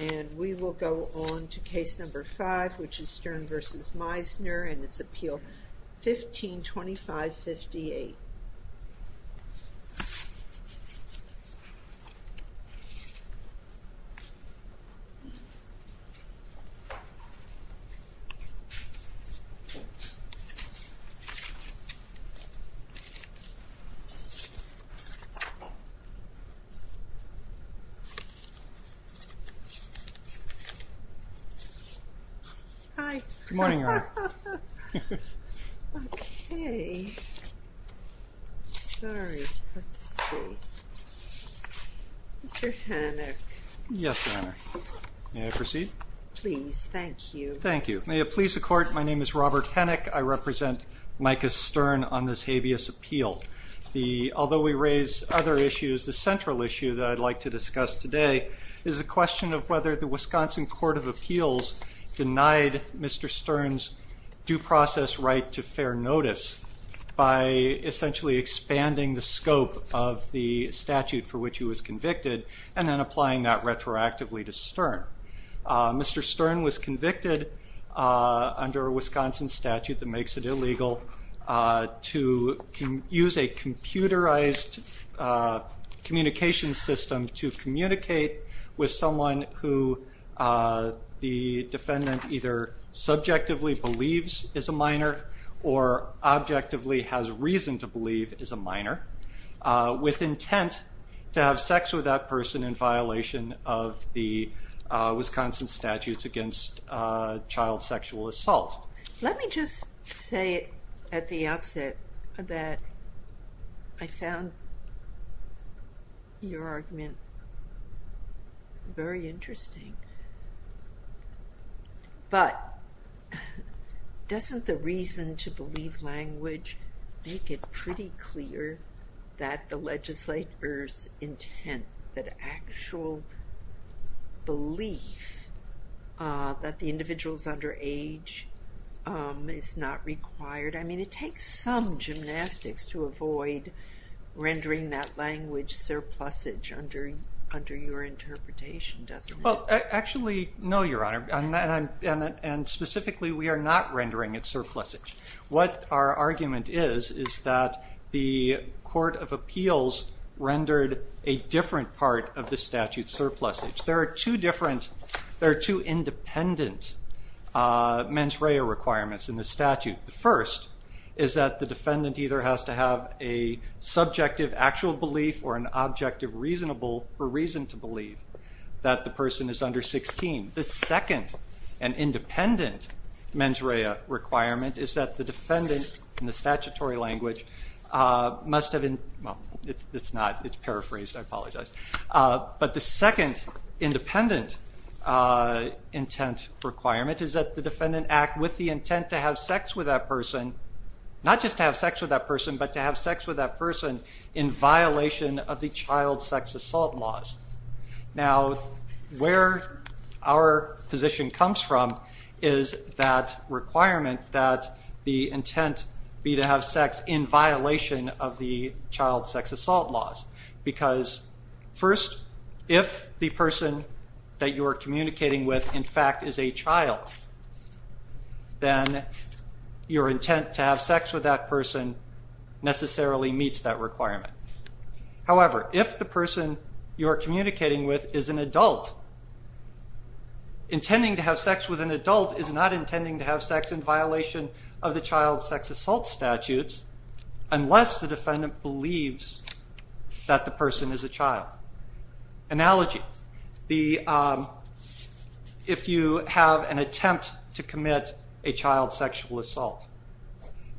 and we will go on to case number five which is Stern v. Meisner and it's appeal 1525 58 yes may I proceed please thank you thank you may it please the court my name is Robert Hennick I represent Micah Stern on this habeas appeal the although we raise other issues the central issue that I'd like to discuss today is a question of whether the Wisconsin Court of Appeals denied mr. Stern's due process right to fair notice by essentially expanding the scope of the statute for which he was convicted and then applying that retroactively to Stern mr. Stern was convicted under a Wisconsin statute that makes it illegal to use a computerized communication system to communicate with someone who the defendant either subjectively believes is a minor or objectively has reason to believe is a minor with intent to have sex with that person in violation of the Wisconsin statutes against child sexual assault let me just say at the outset that I found your argument very interesting but doesn't the reason to believe language make it pretty clear that the legislators intent that actual belief that the individuals under age is not required I mean it takes some gymnastics to avoid rendering that language surplus age under under your interpretation doesn't well actually no your honor and I'm and specifically we are not rendering it surplusage what our argument is is that the Court of Appeals rendered a different part of the statute surplusage there are two different there are two independent mens rea requirements in the statute the first is that the defendant either has to have a subjective actual belief or an objective reasonable for reason to believe that the person is under 16 the second and independent mens rea requirement is that the defendant in the second independent intent requirement is that the defendant act with the intent to have sex with that person not just have sex with that person but to have sex with that person in violation of the child sex assault laws now where our position comes from is that requirement that the intent be to have sex in violation of the child sex assault laws because first if the person that you are communicating with in fact is a child then your intent to have sex with that person necessarily meets that requirement however if the person you are communicating with is an adult intending to have sex with an adult is not intending to have sex in violation of the child sex assault statutes unless the defendant believes that the person is a child analogy the if you have an attempt to commit a child sexual assault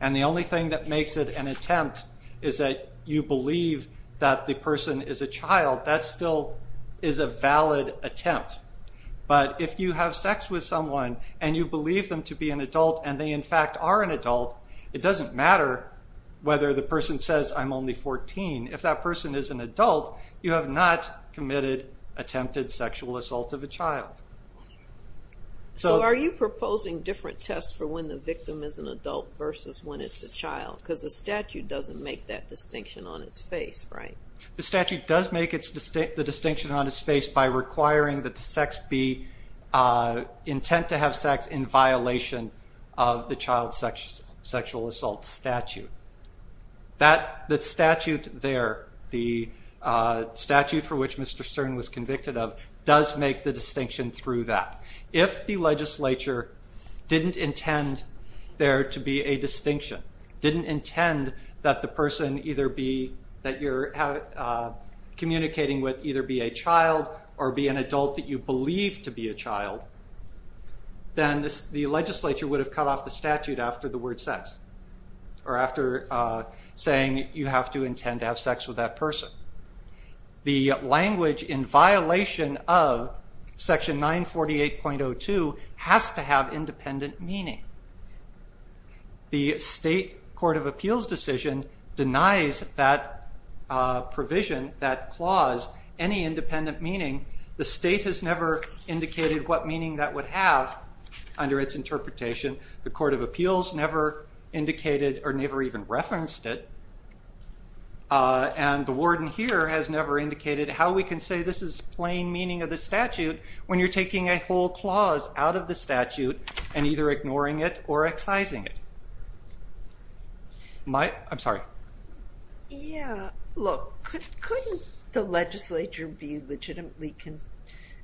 and the only thing that makes it an attempt is that you believe that the person is a child that still is a valid attempt but if you have sex with someone and you believe them to be an adult and they in fact are an adult it doesn't matter whether the person says I'm only 14 if that person is an adult you have not committed attempted sexual assault of a child so are you proposing different tests for when the victim is an adult versus when it's a child because the statute doesn't make that distinction on its face right the statute does make its distinct the that the sex be intent to have sex in violation of the child sexual sexual assault statute that the statute there the statute for which Mr. Stern was convicted of does make the distinction through that if the legislature didn't intend there to be a distinction didn't intend that the person either be that you're communicating with either be a child or be an adult that you believe to be a child then this the legislature would have cut off the statute after the word sex or after saying you have to intend to have sex with that person the language in violation of section 948.02 has to have independent meaning the state Court of Appeals decision denies that provision that clause any independent meaning the state has never indicated what meaning that would have under its interpretation the Court of Appeals never indicated or never even referenced it and the warden here has never indicated how we can say this is plain meaning of the statute when you're taking a whole clause out of the statute and either ignoring it or excising it. I'm sorry. Yeah look couldn't the legislature be legitimately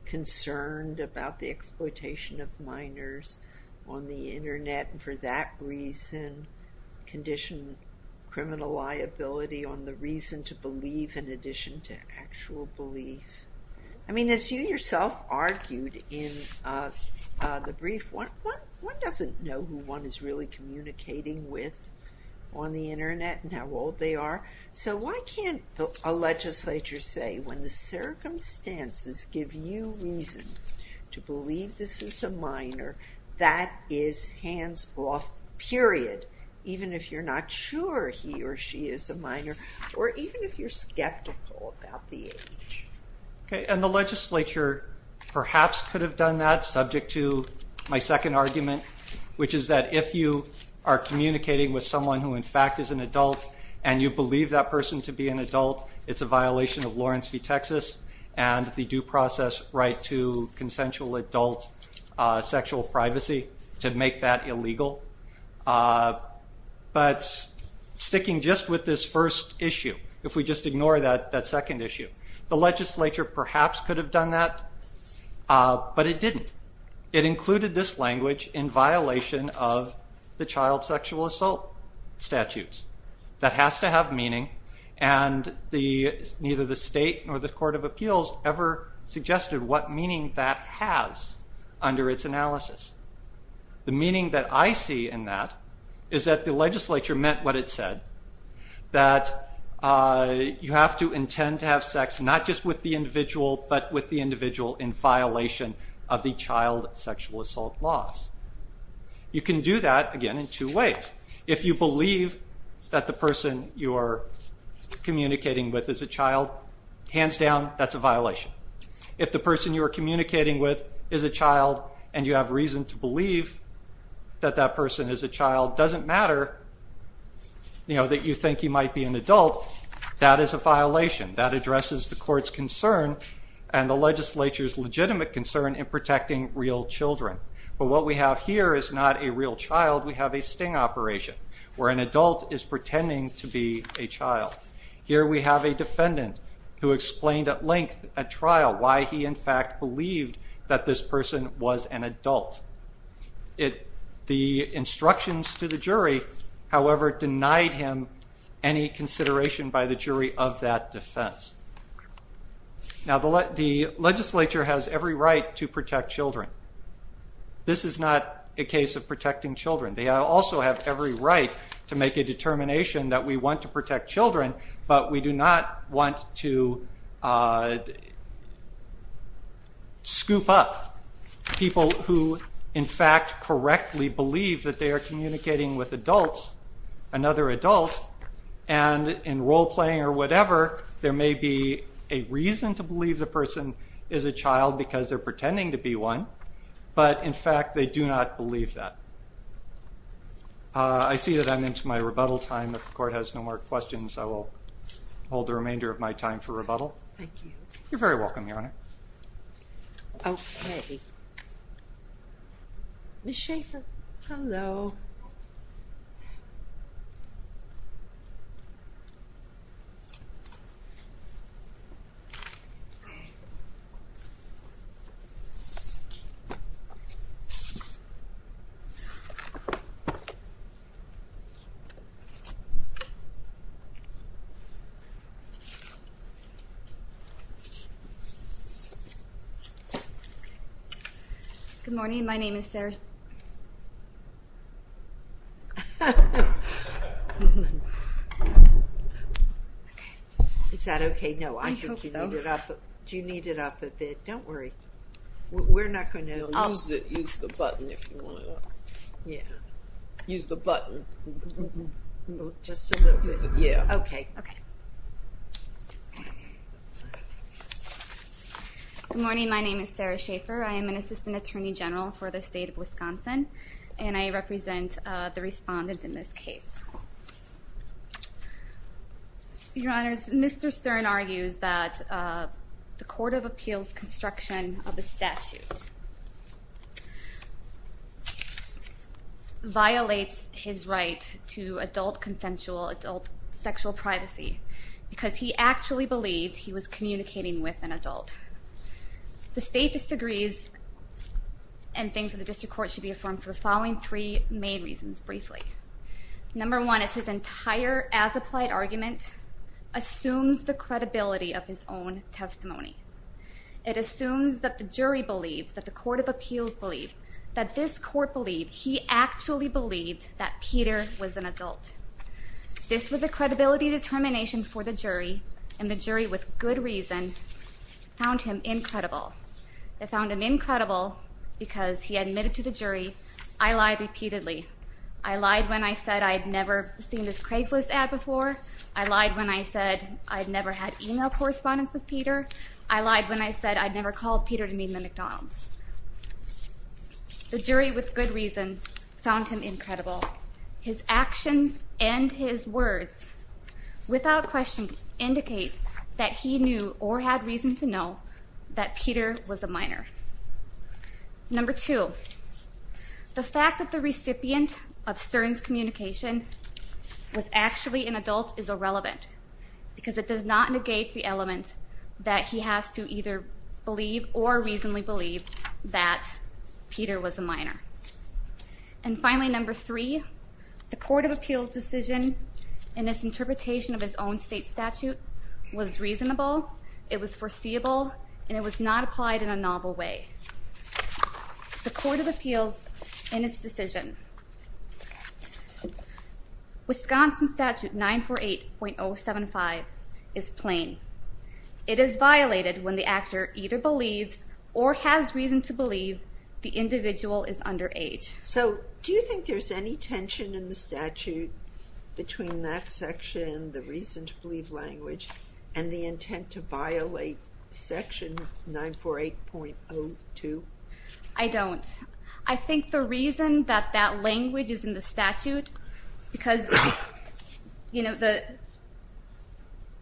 concerned about the exploitation of minors on the internet and for that reason condition criminal liability on the reason to believe in addition to actual belief I mean as you yourself argued in the brief one doesn't know who one is really communicating with on the internet and how old they are so why can't a legislature say when the circumstances give you reason to believe this is a minor that is hands-off period even if you're not sure he or she is a minor or even if you're skeptical about the age. Okay and the legislature perhaps could have done that subject to my second argument which is that if you are communicating with someone who in fact is an adult and you believe that person to be an adult it's a violation of Lawrence v. Texas and the due process right to consensual adult sexual privacy to make that illegal but sticking just with this first issue if we just ignore that that second issue the legislature perhaps could have done that but it didn't. It included this language in violation of the child sexual assault statutes that has to have meaning and the neither the state nor the Court of Appeals ever suggested what meaning that has under its analysis. The you have to intend to have sex not just with the individual but with the individual in violation of the child sexual assault laws. You can do that again in two ways. If you believe that the person you are communicating with is a child hands down that's a violation. If the person you are communicating with is a child and you have reason to believe that that person is a child doesn't matter that you think you might be an adult that is a violation that addresses the court's concern and the legislature's legitimate concern in protecting real children but what we have here is not a real child we have a sting operation where an adult is pretending to be a child. Here we have a defendant who explained at length at trial why he in fact believed that this however denied him any consideration by the jury of that defense. Now the legislature has every right to protect children. This is not a case of protecting children. They also have every right to make a determination that we want to protect children but we do not want to scoop up people who in fact correctly believe that they are communicating with adults another adult and in role-playing or whatever there may be a reason to believe the person is a child because they're pretending to be one but in fact they do not believe that. I see that I'm into my rebuttal time. If the court has no more questions I will hold the remainder of my time for rebuttal. Thank you. You're very welcome Your Honor. Okay. Ms. Schaffer. Hello. Good morning my name is Sarah. Is that okay? No. Do you need it up a bit? Don't worry. We're not going to. Use the button if you want it up. Yeah. Use the button. Just a little bit. Yeah. Okay. Good morning my name is Sarah Schaffer. I am an Assistant Attorney General for the state of Wisconsin and I represent the respondent in this case. Your Honor, Mr. Stern argues that the Court of Appeals construction of a statute violates his right to adult consensual adult sexual privacy because he actually believed he was communicating with an adult. The state disagrees and thinks that the district court should be affirmed for the following three main reasons briefly. Number one is his entire as applied argument assumes the credibility of his own testimony. It assumes that the jury believes that the Court of Appeals believe that this court believed he actually believed that Peter was an adult. This was a credibility determination for the jury and the jury with good reason found him incredible. They found him incredible because he admitted to the jury I lied repeatedly. I lied when I said I'd never had email correspondence with Peter. I lied when I said I'd never called Peter to meet in the McDonald's. The jury with good reason found him incredible. His actions and his words without question indicate that he knew or had reason to know that Peter was a minor. Number two, the fact that the jury believes that Peter was a minor is irrelevant because it does not negate the element that he has to either believe or reasonably believe that Peter was a minor. And finally number three, the Court of Appeals decision in this interpretation of his own state statute was reasonable, it was foreseeable, and it was not applied in a novel way. The reason to believe 948.075 is plain. It is violated when the actor either believes or has reason to believe the individual is underage. So do you think there's any tension in the statute between that section, the reason to believe language, and the intent to violate section 948.02? I don't. I think the reason that that language is in the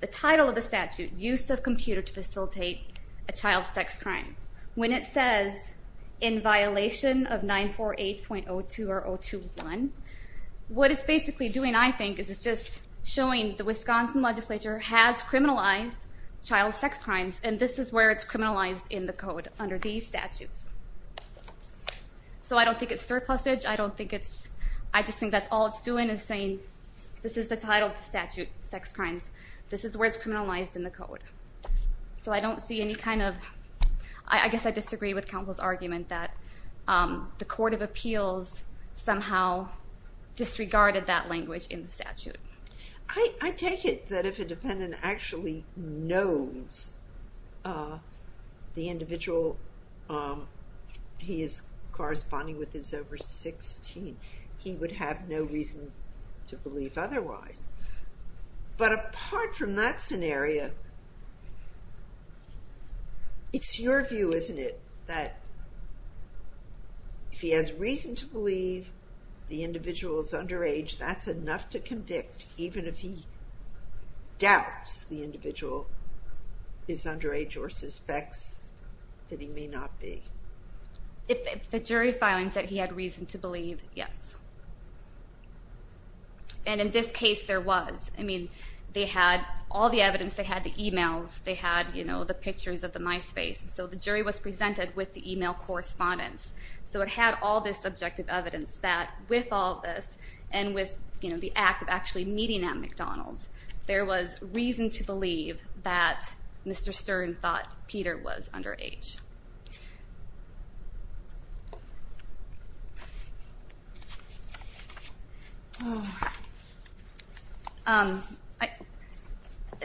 the title of the statute, Use of Computer to Facilitate a Child Sex Crime, when it says in violation of 948.02 or 021, what it's basically doing I think is it's just showing the Wisconsin legislature has criminalized child sex crimes and this is where it's criminalized in the code under these statutes. So I don't think it's surplusage, I don't think it's, I just think that's all it's doing is showing this is the title of the statute, sex crimes, this is where it's criminalized in the code. So I don't see any kind of, I guess I disagree with counsel's argument that the Court of Appeals somehow disregarded that language in the statute. I take it that if a defendant actually knows the individual he is corresponding with is over 16, he would have no reason to believe otherwise. But apart from that scenario, it's your view, isn't it, that if he has reason to believe the individual is underage, that's enough to convict even if he doubts the individual is underage or suspects that he may not be? If the jury of filing said he had reason to believe, and in this case there was, I mean, they had all the evidence, they had the emails, they had, you know, the pictures of the MySpace, so the jury was presented with the email correspondence. So it had all this subjective evidence that with all this and with, you know, the act of actually meeting at McDonald's, there was reason to believe that Mr. Stern thought Peter was underage.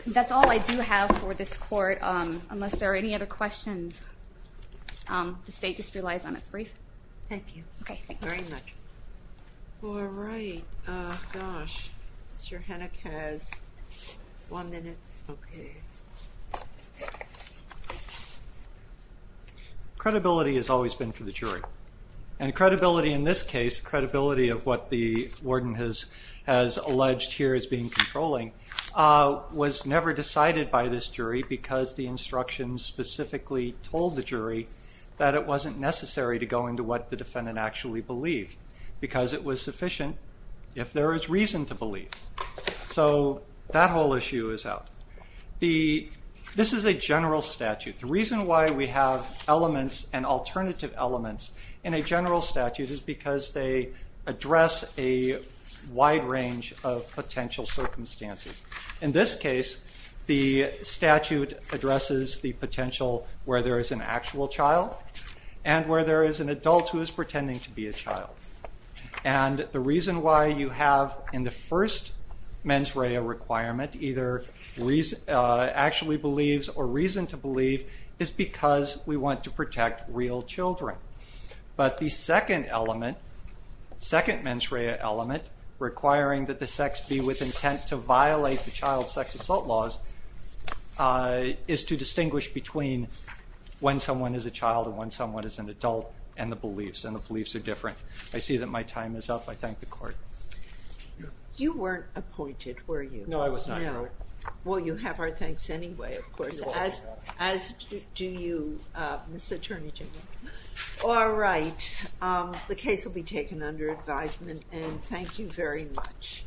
That's all I do have for this court, unless there are any other questions. The state just relies on its brief. Thank you. Okay, thank you very much. All right, gosh, Mr. Henick has one minute. Okay. Credibility has always been for the jury, and credibility in this case, credibility of what the warden has alleged here as being controlling, was never decided by this jury because the instructions specifically told the jury that it wasn't necessary to go into what the defendant actually believed, because it was sufficient if there is reason to believe. So that whole issue is out. This is a general statute. The reason why we have elements and alternative elements in a general statute is because they address a wide range of potential circumstances. In this case, the statute addresses the potential where there is an actual child and where there is an adult who is pretending to be a child. And the reason why you have in the first mens rea requirement either actually believes or reason to believe is because we want to protect real children. But the second element, second mens rea element requiring that the sex be with intent to violate the child sex assault laws, is to distinguish between when someone is a child and when someone is an adult and the beliefs, and the beliefs are different. I see that my time is up. I thank the court. You weren't appointed, were you? No, I was not. Well, you have our thanks anyway, of course, as do you, Ms. Attorney General. All right, the case will be taken under advisement and thank you very much.